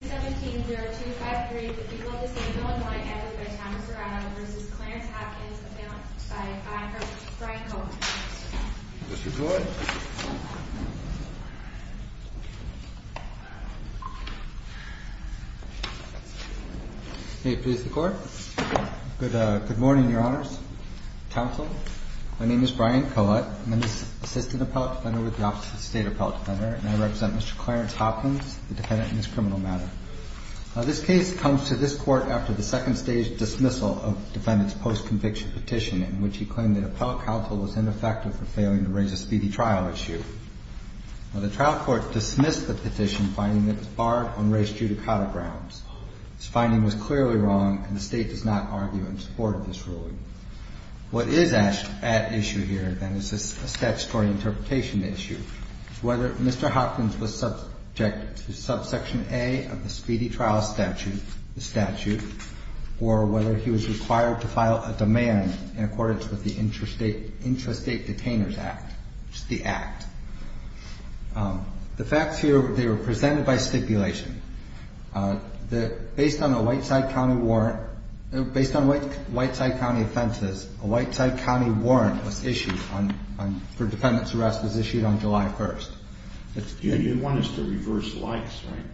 17, 0253, the people of the state of Illinois, advocate by Thomas Serrano, v. Clarence Hopkins, defendant by honor, Brian Collett. Mr. Collett. May it please the court. Good morning, your honors, counsel. My name is Brian Collett, and I'm the assistant appellate defender with the Office of the State Appellate Defender, and I represent Mr. Clarence Hopkins, the defendant in this criminal matter. This case comes to this court after the second stage dismissal of the defendant's post-conviction petition, in which he claimed that appellate counsel was ineffective for failing to raise a speedy trial issue. The trial court dismissed the petition, finding that it was barred on race judicata grounds. This finding was clearly wrong, and the state does not argue in support of this ruling. What is at issue here, then, is a statutory interpretation issue. Whether Mr. Hopkins was subject to Subsection A of the Speedy Trial Statute, or whether he was required to file a demand in accordance with the Intrastate Detainers Act, which is the Act. The facts here, they were presented by stipulation. Based on a Whiteside County warrant, based on Whiteside County offenses, a Whiteside County warrant was issued for defendant's arrest was issued on July 1st. You want us to reverse Lykes, right?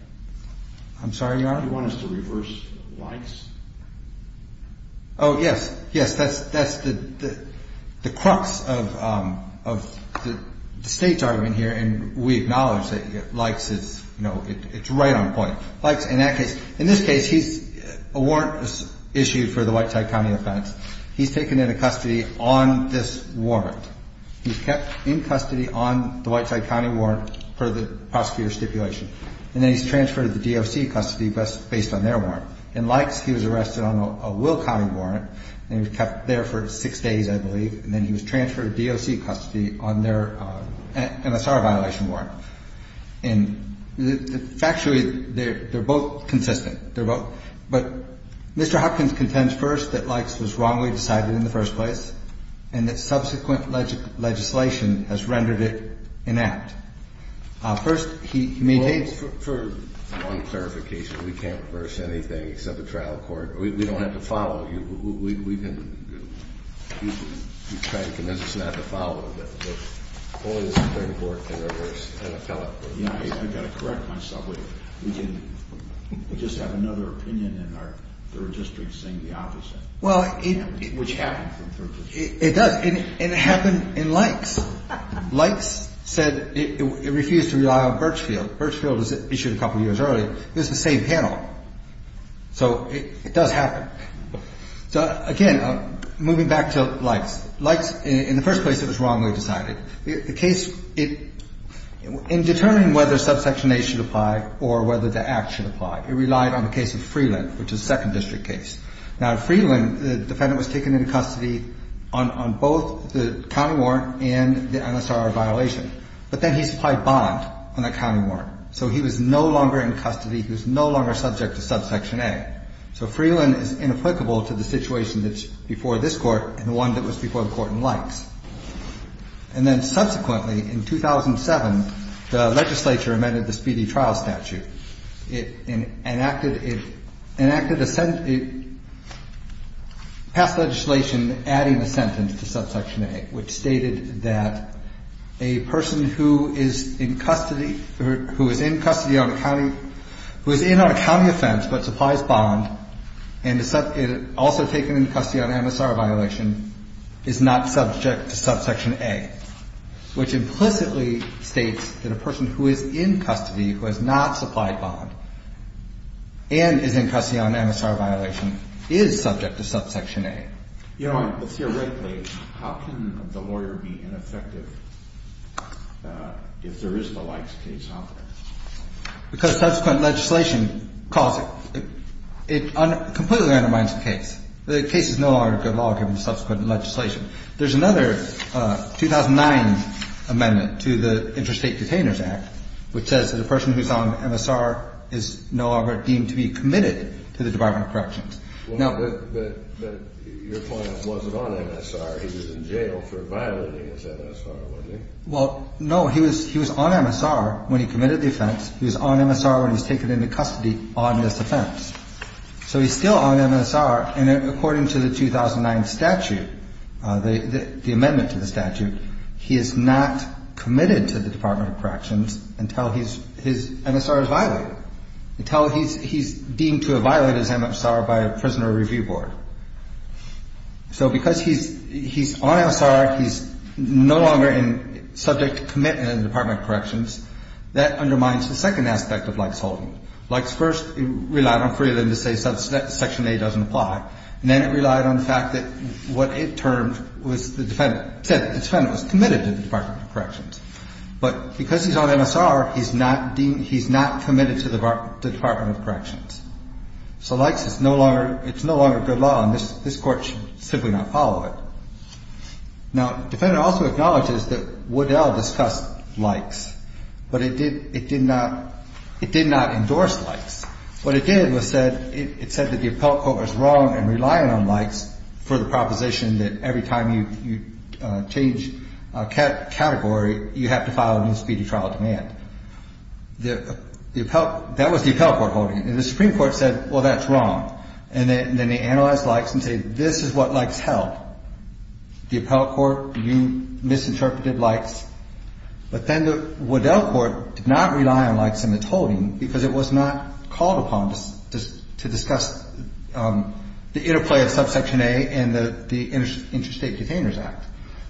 I'm sorry, Your Honor? You want us to reverse Lykes? Oh, yes. Yes, that's the crux of the state's argument here, and we acknowledge that Lykes is, you know, it's right on point. Lykes, in that case, in this case, a warrant was issued for the Whiteside County offense. He's taken into custody on this warrant. He's kept in custody on the Whiteside County warrant per the prosecutor's stipulation, and then he's transferred to the DOC custody based on their warrant. In Lykes, he was arrested on a Will County warrant, and he was kept there for six days, I believe, and then he was transferred to DOC custody on their MSR violation warrant. And factually, they're both consistent. They're both. But Mr. Hopkins contends first that Lykes was wrongly decided in the first place and that subsequent legislation has rendered it inact. First, he maintains... Well, for one clarification, we can't reverse anything except a trial court. We don't have to follow you. We can... You can try to convince us not to follow, but only the Supreme Court can reverse an appellate. I've got to correct myself. We can just have another opinion in our third district saying the opposite, which happens in third districts. It does, and it happened in Lykes. Lykes said it refused to rely on Birchfield. Birchfield was issued a couple years earlier. This is the same panel, so it does happen. So, again, moving back to Lykes. Lykes, in the first place, it was wrongly decided. The case... In determining whether Subsection A should apply or whether the act should apply, it relied on the case of Freeland, which is a second district case. Now, in Freeland, the defendant was taken into custody on both the county warrant and the NSRR violation, but then he supplied bond on that county warrant. So he was no longer in custody. He was no longer subject to Subsection A. So Freeland is inapplicable to the situation that's before this court and the one that was before the court in Lykes. And then, subsequently, in 2007, the legislature amended the speedy trial statute. It enacted a... passed legislation adding a sentence to Subsection A, which stated that a person who is in custody... who is in custody on a county... who is in on a county offense but supplies bond and is also taken into custody on an NSRR violation is not subject to Subsection A, which implicitly states that a person who is in custody, who has not supplied bond and is in custody on an NSRR violation is subject to Subsection A. You know, theoretically, how can the lawyer be ineffective if there is the Lykes case out there? Because subsequent legislation caused... it completely undermines the case. The case is no longer good law given subsequent legislation. There's another 2009 amendment to the Interstate Detainers Act which says that a person who's on MSR is no longer deemed to be committed to the Department of Corrections. Now... But your client wasn't on MSR. He was in jail for violating his MSR, wasn't he? Well, no. He was on MSR when he committed the offense. He was on MSR when he was taken into custody on this offense. So he's still on MSR. And according to the 2009 statute, the amendment to the statute, he is not committed to the Department of Corrections until his MSR is violated, until he's deemed to have violated his MSR by a Prisoner Review Board. So because he's on MSR, he's no longer subject to commitment in the Department of Corrections, that undermines the second aspect of Lykes Holden. Lykes first relied on Freeland to say Section A doesn't apply, and then it relied on the fact that what it termed was the defendant... It said the defendant was committed to the Department of Corrections. But because he's on MSR, he's not committed to the Department of Corrections. So Lykes is no longer... It's no longer good law, and this Court should simply not follow it. Now, the defendant also acknowledges that Woodell discussed Lykes, but it did not endorse Lykes. What it did was it said that the appellate court was wrong in relying on Lykes for the proposition that every time you change a category, you have to file a new speedy trial demand. That was the appellate court holding it. And the Supreme Court said, well, that's wrong. And then they analyzed Lykes and said, this is what Lykes held. The appellate court, you misinterpreted Lykes. But then the Woodell court did not rely on Lykes in its holding because it was not called upon to discuss the interplay of Subsection A and the Interstate Containers Act.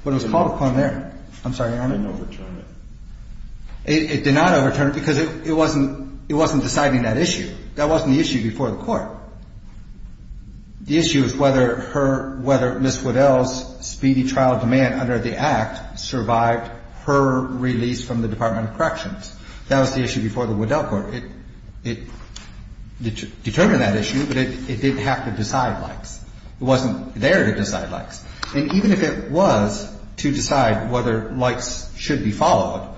But it was called upon there. I'm sorry, Your Honor. It didn't overturn it. It did not overturn it because it wasn't deciding that issue. That wasn't the issue before the court. The issue is whether Ms. Woodell's speedy trial demand under the act survived her release from the Department of Corrections. That was the issue before the Woodell court. It determined that issue, but it didn't have to decide Lykes. It wasn't there to decide Lykes. And even if it was to decide whether Lykes should be followed,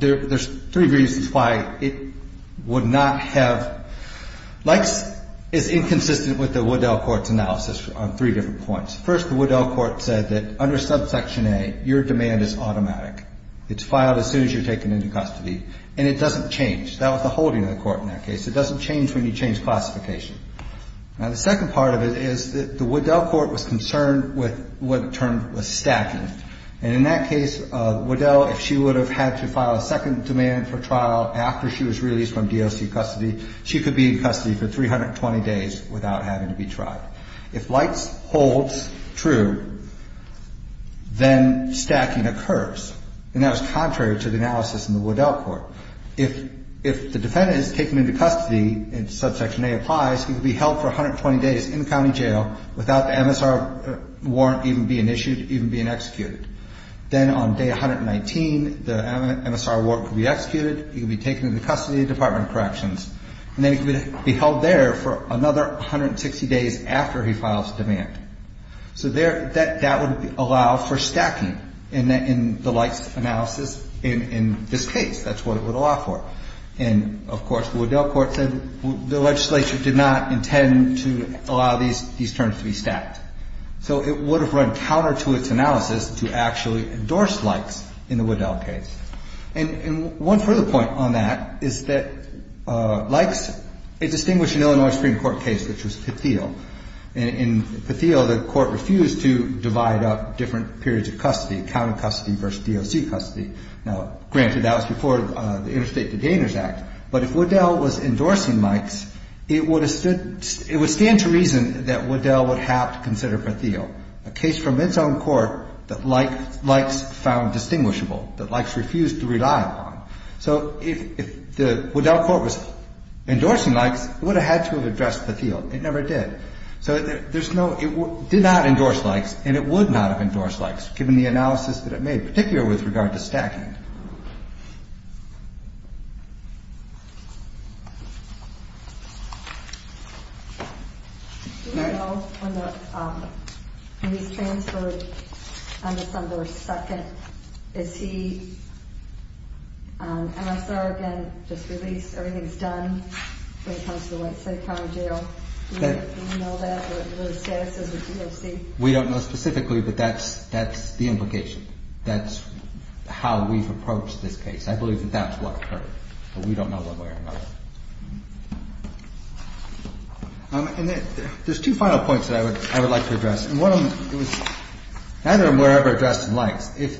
there's three reasons why it would not have. Lykes is inconsistent with the Woodell court's analysis on three different points. First, the Woodell court said that under Subsection A, your demand is automatic. It's filed as soon as you're taken into custody. And it doesn't change. That was the holding of the court in that case. It doesn't change when you change classification. Now, the second part of it is that the Woodell court was concerned with what it termed was stacking. And in that case, Woodell, if she would have had to file a second demand for trial after she was released from DOC custody, she could be in custody for 320 days without having to be tried. If Lykes holds true, then stacking occurs. And that was contrary to the analysis in the Woodell court. If the defendant is taken into custody, and Subsection A applies, he could be held for 120 days in county jail without the MSR warrant even being issued, even being executed. Then on day 119, the MSR warrant could be executed. He could be taken into custody, Department of Corrections. And then he could be held there for another 160 days after he files demand. So that would allow for stacking in the Lykes analysis in this case. That's what it would allow for. And, of course, the Woodell court said the legislature did not intend to allow these terms to be stacked. So it would have run counter to its analysis to actually endorse Lykes in the Woodell case. And one further point on that is that Lykes, it distinguished an Illinois Supreme Court case, which was Patheo. In Patheo, the court refused to divide up different periods of custody, county custody versus DOC custody. Now, granted that was before the Interstate Detainers Act. But if Woodell was endorsing Lykes, it would stand to reason that Woodell would have to consider Patheo, a case from its own court that Lykes found distinguishable, that Lykes refused to rely upon. So if the Woodell court was endorsing Lykes, it would have had to have addressed Patheo. It never did. So there's no – it did not endorse Lykes, and it would not have endorsed Lykes, given the analysis that it made, particularly with regard to stacking. Do we know when he's transferred on December 2nd? Is he MSR again, just released? Everything's done when it comes to the White Slate County Jail? Do we know that, what his status is with DOC? We don't know specifically, but that's the implication. That's how we've approached this case. I believe that that's what occurred. But we don't know one way or another. And there's two final points that I would like to address. And one of them, it was – either of them were ever addressed in Lykes. If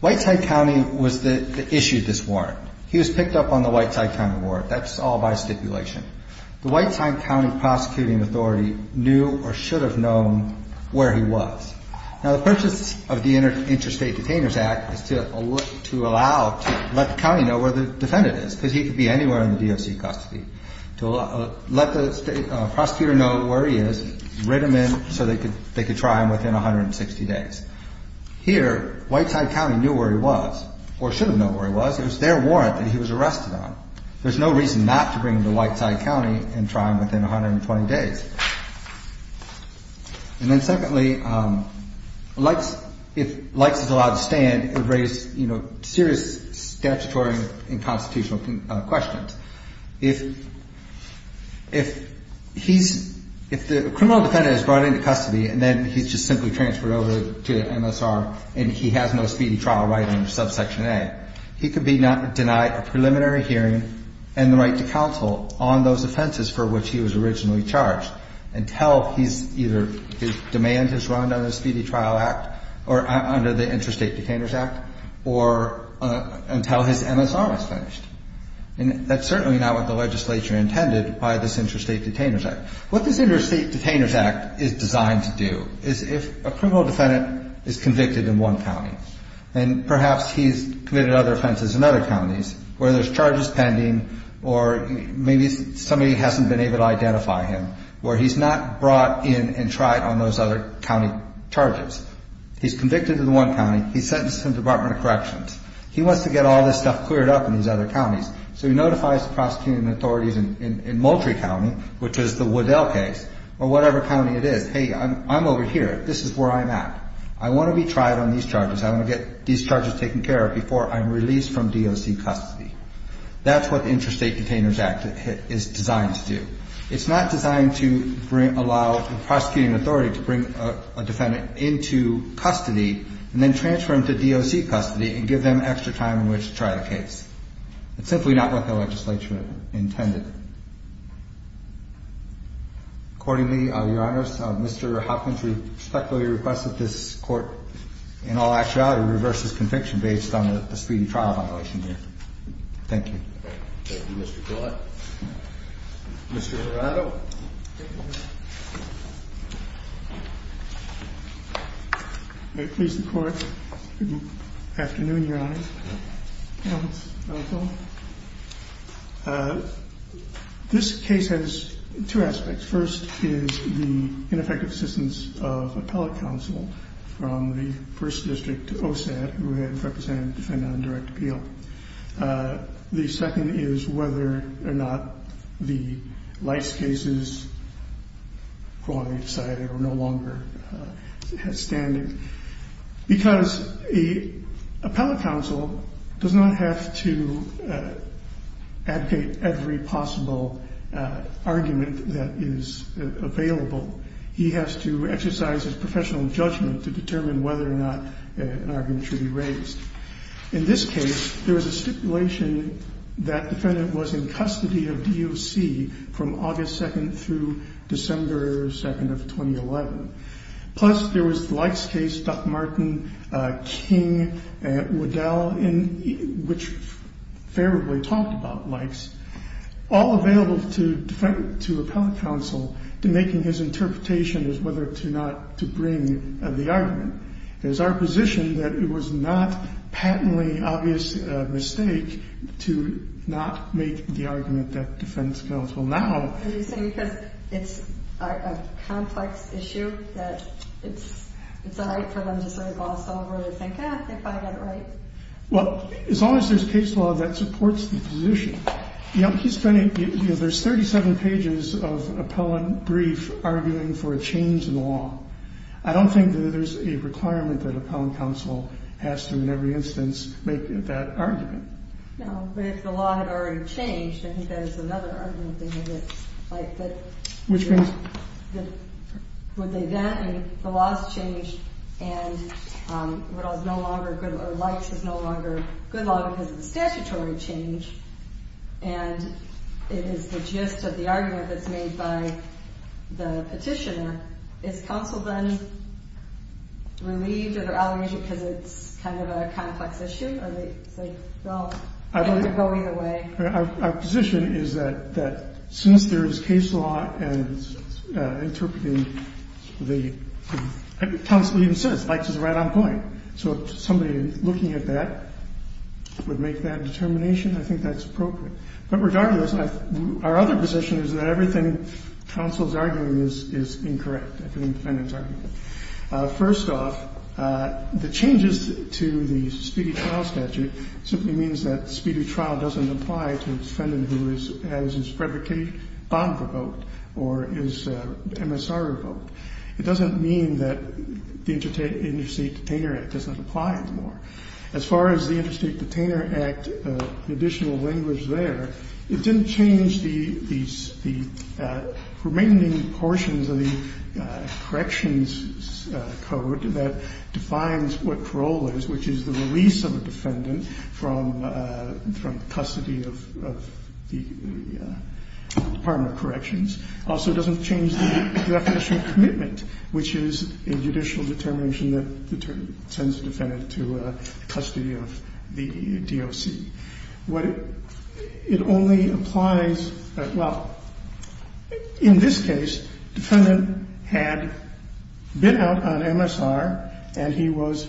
White Slate County was the – issued this warrant, he was picked up on the White Slate County warrant. That's all by stipulation. The White Slate County prosecuting authority knew or should have known where he was. Now, the purpose of the Interstate Detainers Act is to allow – to let the county know where the defendant is, because he could be anywhere in the DOC custody. To let the state – prosecutor know where he is, write him in so they could try him within 160 days. Here, White Slate County knew where he was or should have known where he was. It was their warrant that he was arrested on. There's no reason not to bring him to White Slate County and try him within 120 days. And then secondly, Lykes – if Lykes is allowed to stand, it would raise serious statutory and constitutional questions. If he's – if the criminal defendant is brought into custody and then he's just simply transferred over to MSR and he has no speedy trial right under subsection A, he could be denied a preliminary hearing and the right to counsel on those offenses for which he was originally charged until he's either – his demand is run under the Speedy Trial Act or under the Interstate Detainers Act or until his MSR is finished. And that's certainly not what the legislature intended by this Interstate Detainers Act. What this Interstate Detainers Act is designed to do is if a criminal defendant is convicted in one county and perhaps he's committed other offenses in other counties where there's charges pending or maybe somebody hasn't been able to identify him where he's not brought in and tried on those other county charges. He's convicted in one county. He's sentenced to the Department of Corrections. He wants to get all this stuff cleared up in these other counties. So he notifies the prosecuting authorities in Moultrie County, which is the Waddell case, or whatever county it is, hey, I'm over here. This is where I'm at. I want to be tried on these charges. I want to get these charges taken care of before I'm released from DOC custody. That's what the Interstate Detainers Act is designed to do. It's not designed to allow the prosecuting authority to bring a defendant into custody and then transfer him to DOC custody and give them extra time in which to try the case. It's simply not what the legislature intended. Accordingly, Your Honors, Mr. Hopkins respectfully requests that this court, in all actuality, reverse his conviction based on the speedy trial violation here. Thank you. Thank you, Mr. Gillett. Mr. Ferraro. May it please the Court. Good afternoon, Your Honors. This case has two aspects. First is the ineffective assistance of appellate counsel from the 1st District to OSAD, who had represented the defendant on direct appeal. The second is whether or not the Lice case is no longer standing. Because appellate counsel does not have to advocate every possible argument that is available. He has to exercise his professional judgment to determine whether or not an argument should be raised. In this case, there was a stipulation that defendant was in custody of DOC from August 2nd through December 2nd of 2011. Plus, there was the Lice case, Doc Martin, King, Waddell, which favorably talked about Lice. All available to appellate counsel to make his interpretation as whether or not to bring the argument. It is our position that it was not patently obvious mistake to not make the argument that defense counsel now. It's a complex issue that it's all right for them to sort of gloss over and think, ah, if I got it right. Well, as long as there's a case law that supports the position. You know, there's 37 pages of appellant brief arguing for a change in the law. I don't think that there's a requirement that appellant counsel has to, in every instance, make that argument. No, but if the law had already changed, I think that is another argument. Which means? Would they then, the laws change and Lice is no longer good law because it's statutory change. And it is the gist of the argument that's made by the petitioner. Is counsel then relieved of their allegation because it's kind of a complex issue? Or they say, well, it's going away. Our position is that since there is case law and interpreting the counsel even says Lice is right on point. So somebody looking at that would make that determination. I think that's appropriate. But regardless, our other position is that everything counsel is arguing is incorrect. First off, the changes to the speedy trial statute simply means that speedy trial doesn't apply to a defendant who is, has his predicate bond revoked or is MSR revoked. It doesn't mean that the Interstate Detainer Act doesn't apply anymore. As far as the Interstate Detainer Act, the additional language there, it didn't change the remaining portions of the corrections code that defines what parole is, which is the release of a defendant from custody of the Department of Corrections. Also, it doesn't change the definition of commitment, which is a judicial determination that sends a defendant to custody of the DOC. What it only applies, well, in this case, the defendant had been out on MSR and he was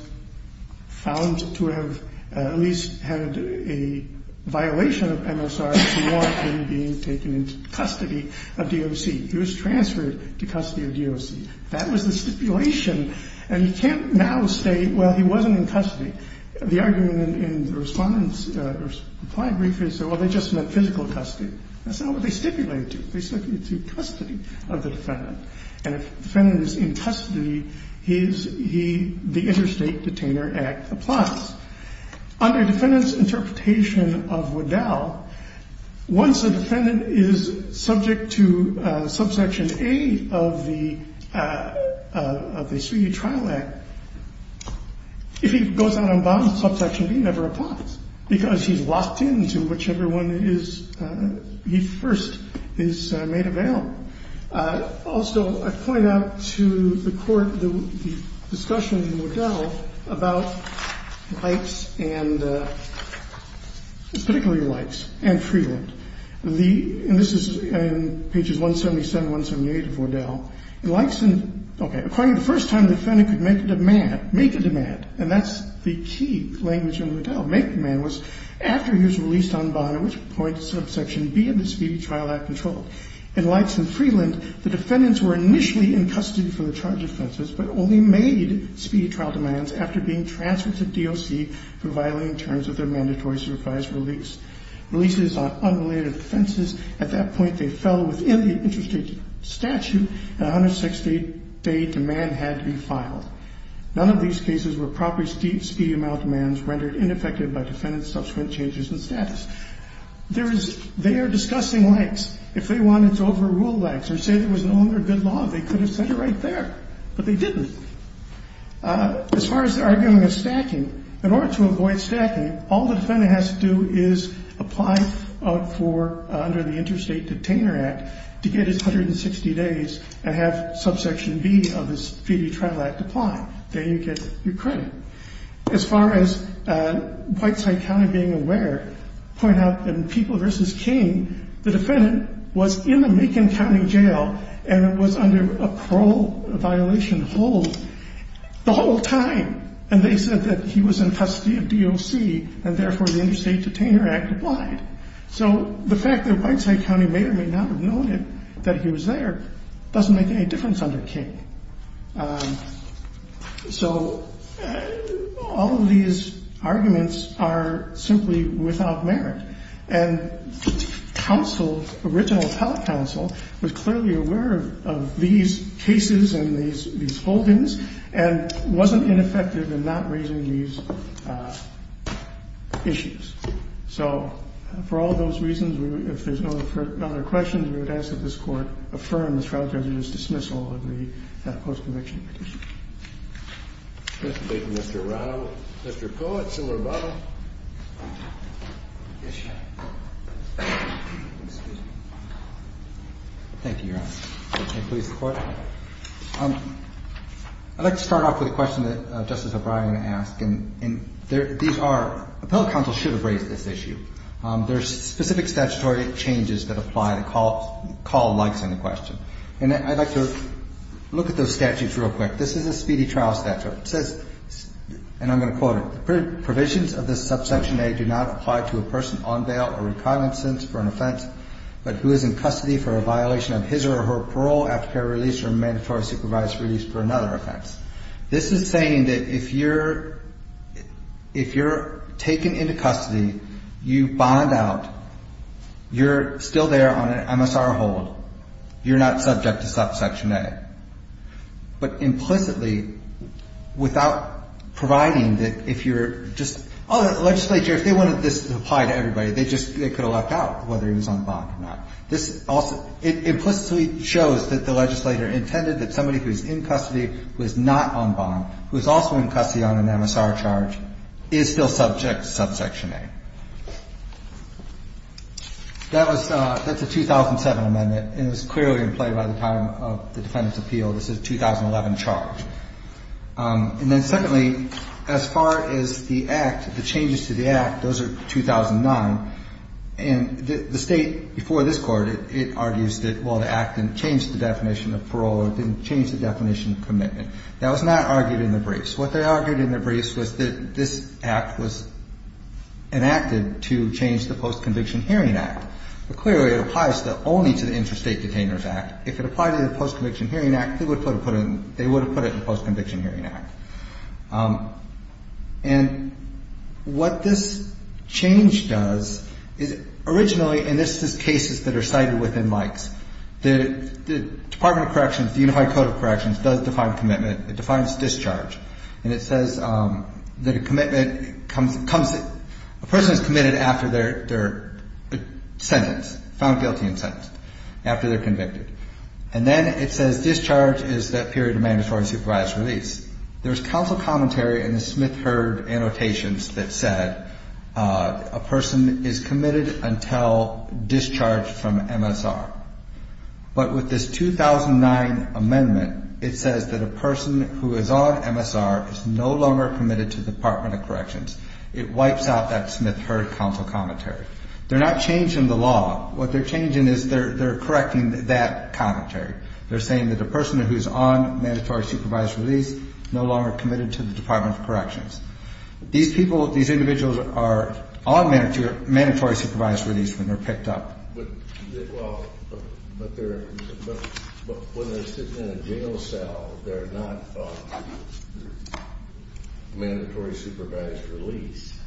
found to have at least had a violation of MSR to warrant him being taken into custody of DOC. He was transferred to custody of DOC. That was the stipulation. And you can't now say, well, he wasn't in custody. The argument in the respondent's reply brief is, well, they just meant physical custody. That's not what they stipulated to. They stipulated to custody of the defendant. And if the defendant is in custody, he is, he, the Interstate Detainer Act applies. Under defendant's interpretation of Waddell, once a defendant is subject to subsection A of the, of the speedy trial act, if he goes out on bond, subsection B never applies because he's locked in to whichever one is, he first is made available. Also, I point out to the Court the discussion in Waddell about likes and, particularly likes and freedom. The, and this is in pages 177, 178 of Waddell. In likes and, okay, according to the first time the defendant could make a demand, make a demand, and that's the key language in Waddell, make a demand was after he was released on bond, at which point subsection B of the speedy trial act controlled. In likes and freeland, the defendants were initially in custody for the charged offenses, but only made speedy trial demands after being transferred to DOC for violating terms of their mandatory supervised release. Releases on unrelated offenses, at that point, they fell within the interstate statute and 160-day demand had to be filed. None of these cases were properly speedy, speedy amount of demands rendered ineffective by defendant's subsequent changes in status. There is, they are discussing likes. If they wanted to overrule likes or say there was no other good law, they could have said it right there, but they didn't. As far as arguing a stacking, in order to avoid stacking, all the defendant has to do is apply for, under the Interstate Detainer Act, to get his 160 days and have subsection B of the speedy trial act apply. Then you get your credit. As far as Whiteside County being aware, point out in People v. King, the defendant was in the Macon County Jail and was under a parole violation hold the whole time. And they said that he was in custody of DOC and, therefore, the Interstate Detainer Act applied. So the fact that Whiteside County may or may not have known that he was there doesn't make any difference under King. So all of these arguments are simply without merit. And counsel, original telecounsel, was clearly aware of these cases and these holdings and wasn't ineffective in not raising these issues. So for all those reasons, if there's no other questions, we would ask that this Court affirm the trial judge's dismissal of the post-conviction petition. MR. RAUM. MR. COATS. MR. COATS. MR. COATS. MR. COATS. MR. COATS. I'd like to start off with a question that Justice O'Brien asked. And these are – appellate counsel should have raised this issue. There are specific statutory changes that apply to call likes on the question. And I'd like to look at those statutes real quick. This is a speedy trial statute. It says, and I'm going to quote it, provisions of this subsection A do not apply to a person on bail or in cognizance for an offense, but who is in custody for a violation of his or her parole after parole release or mandatory supervised release for another offense. This is saying that if you're taken into custody, you bond out, you're still there on an MSR hold, you're not subject to subsection A. But implicitly, without providing that if you're just – oh, the legislature, if they wanted this to apply to everybody, they could have left out whether he was on bond or not. This also – it implicitly shows that the legislator intended that somebody who's in custody, who is not on bond, who is also in custody on an MSR charge, is still subject to subsection A. That was – that's a 2007 amendment, and it was clearly in play by the time of the Defendant's Appeal. This is a 2011 charge. And then secondly, as far as the Act, the changes to the Act, those are 2009. And the State, before this Court, it argues that, well, the Act didn't change the definition of parole. It didn't change the definition of commitment. That was not argued in the briefs. What they argued in the briefs was that this Act was enacted to change the Post-Conviction Hearing Act. But clearly, it applies only to the Interstate Detainers Act. If it applied to the Post-Conviction Hearing Act, they would have put it in the Post-Conviction Hearing Act. And what this change does is originally – and this is cases that are cited within Mike's – the Department of Corrections, the Unified Code of Corrections, does define commitment. It defines discharge. And it says that a commitment comes – a person is committed after their sentence, found guilty and sentenced, after they're convicted. And then it says discharge is that period of mandatory supervised release. There's counsel commentary in the Smith-Hurd annotations that said a person is committed until discharged from MSR. But with this 2009 amendment, it says that a person who is on MSR is no longer committed to the Department of Corrections. It wipes out that Smith-Hurd counsel commentary. They're not changing the law. What they're changing is they're correcting that commentary. They're saying that a person who's on mandatory supervised release is no longer committed to the Department of Corrections. These people – these individuals are on mandatory supervised release when they're picked up. But they – well, but they're – but when they're sitting in a jail cell, they're not on mandatory supervised release.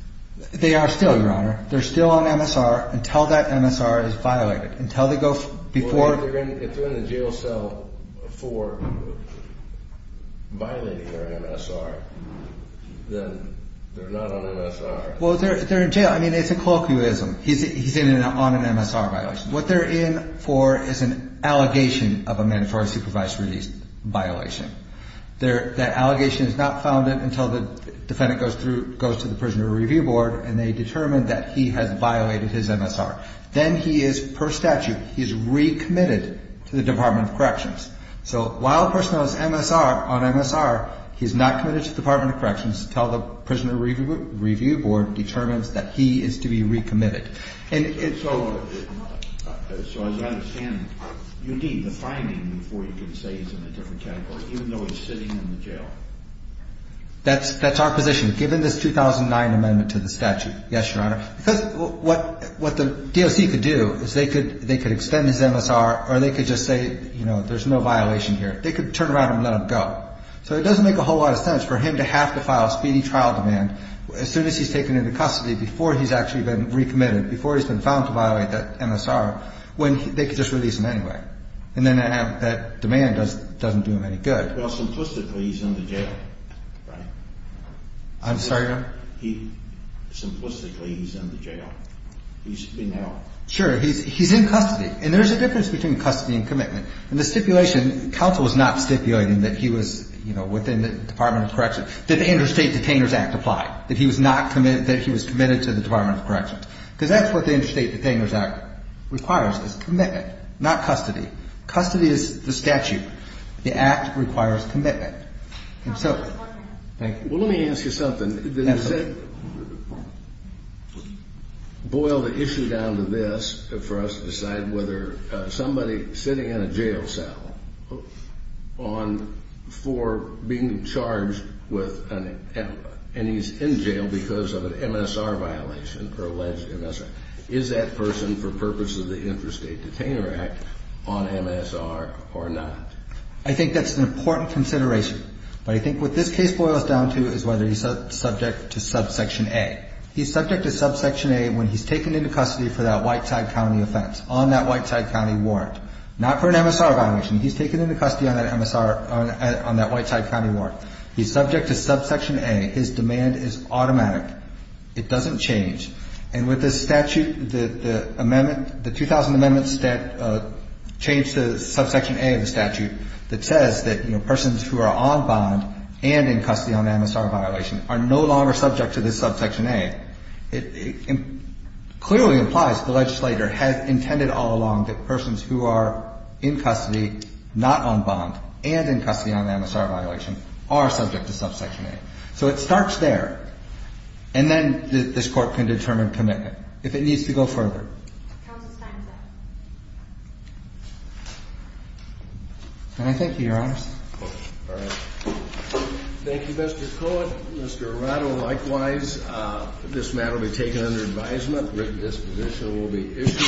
They are still, Your Honor. They're still on MSR until that MSR is violated, until they go before – If they're in the jail cell for violating their MSR, then they're not on MSR. Well, they're in jail. I mean, it's a colloquialism. He's in on an MSR violation. What they're in for is an allegation of a mandatory supervised release violation. That allegation is not founded until the defendant goes through – goes to the prisoner review board and they determine that he has violated his MSR. Then he is, per statute, he's recommitted to the Department of Corrections. So while a person has MSR on MSR, he's not committed to the Department of Corrections until the prisoner review board determines that he is to be recommitted. And so – so as I understand, you need the finding before you can say he's in a different category, even though he's sitting in the jail. That's our position, given this 2009 amendment to the statute. Yes, Your Honor. Because what the DOC could do is they could extend his MSR or they could just say, you know, there's no violation here. They could turn around and let him go. So it doesn't make a whole lot of sense for him to have to file a speedy trial demand as soon as he's taken into custody, before he's actually been recommitted, before he's been found to violate that MSR, when they could just release him anyway. And then that demand doesn't do him any good. Well, simplistically, he's in the jail, right? I'm sorry, Your Honor? Simplistically, he's in the jail. He's being held. Sure. He's in custody. And there's a difference between custody and commitment. In the stipulation, counsel was not stipulating that he was, you know, within the Department of Corrections, that the Interstate Detainers Act applied, that he was not committed – that he was committed to the Department of Corrections. Because that's what the Interstate Detainers Act requires, is commitment, not custody. Custody is the statute. The Act requires commitment. Counsel, one more question. Thank you. Well, let me ask you something. Absolutely. Boil the issue down to this for us to decide whether somebody sitting in a jail cell on – for being charged with an – and he's in jail because of an MSR violation or alleged MSR. Is that person, for purposes of the Interstate Detainer Act, on MSR or not? I think that's an important consideration. But I think what this case boils down to is whether he's subject to subsection A. He's subject to subsection A when he's taken into custody for that Whiteside County offense, on that Whiteside County warrant. Not for an MSR violation. He's taken into custody on that MSR – on that Whiteside County warrant. He's subject to subsection A. His demand is automatic. It doesn't change. And with the statute, the amendment – the 2000 amendments that change the subsection A of the statute that says that, you know, persons who are on bond and in custody on MSR violation are no longer subject to this subsection A, it clearly implies the legislator had intended all along that persons who are in custody, not on bond, and in custody on MSR violation are subject to subsection A. So it starts there. And then this Court can determine commitment, if it needs to go further. Counsel's time is up. Can I thank you, Your Honors? All right. Thank you, Mr. Cohen. Mr. Arado, likewise, this matter will be taken under advisement. Written disposition will be issued.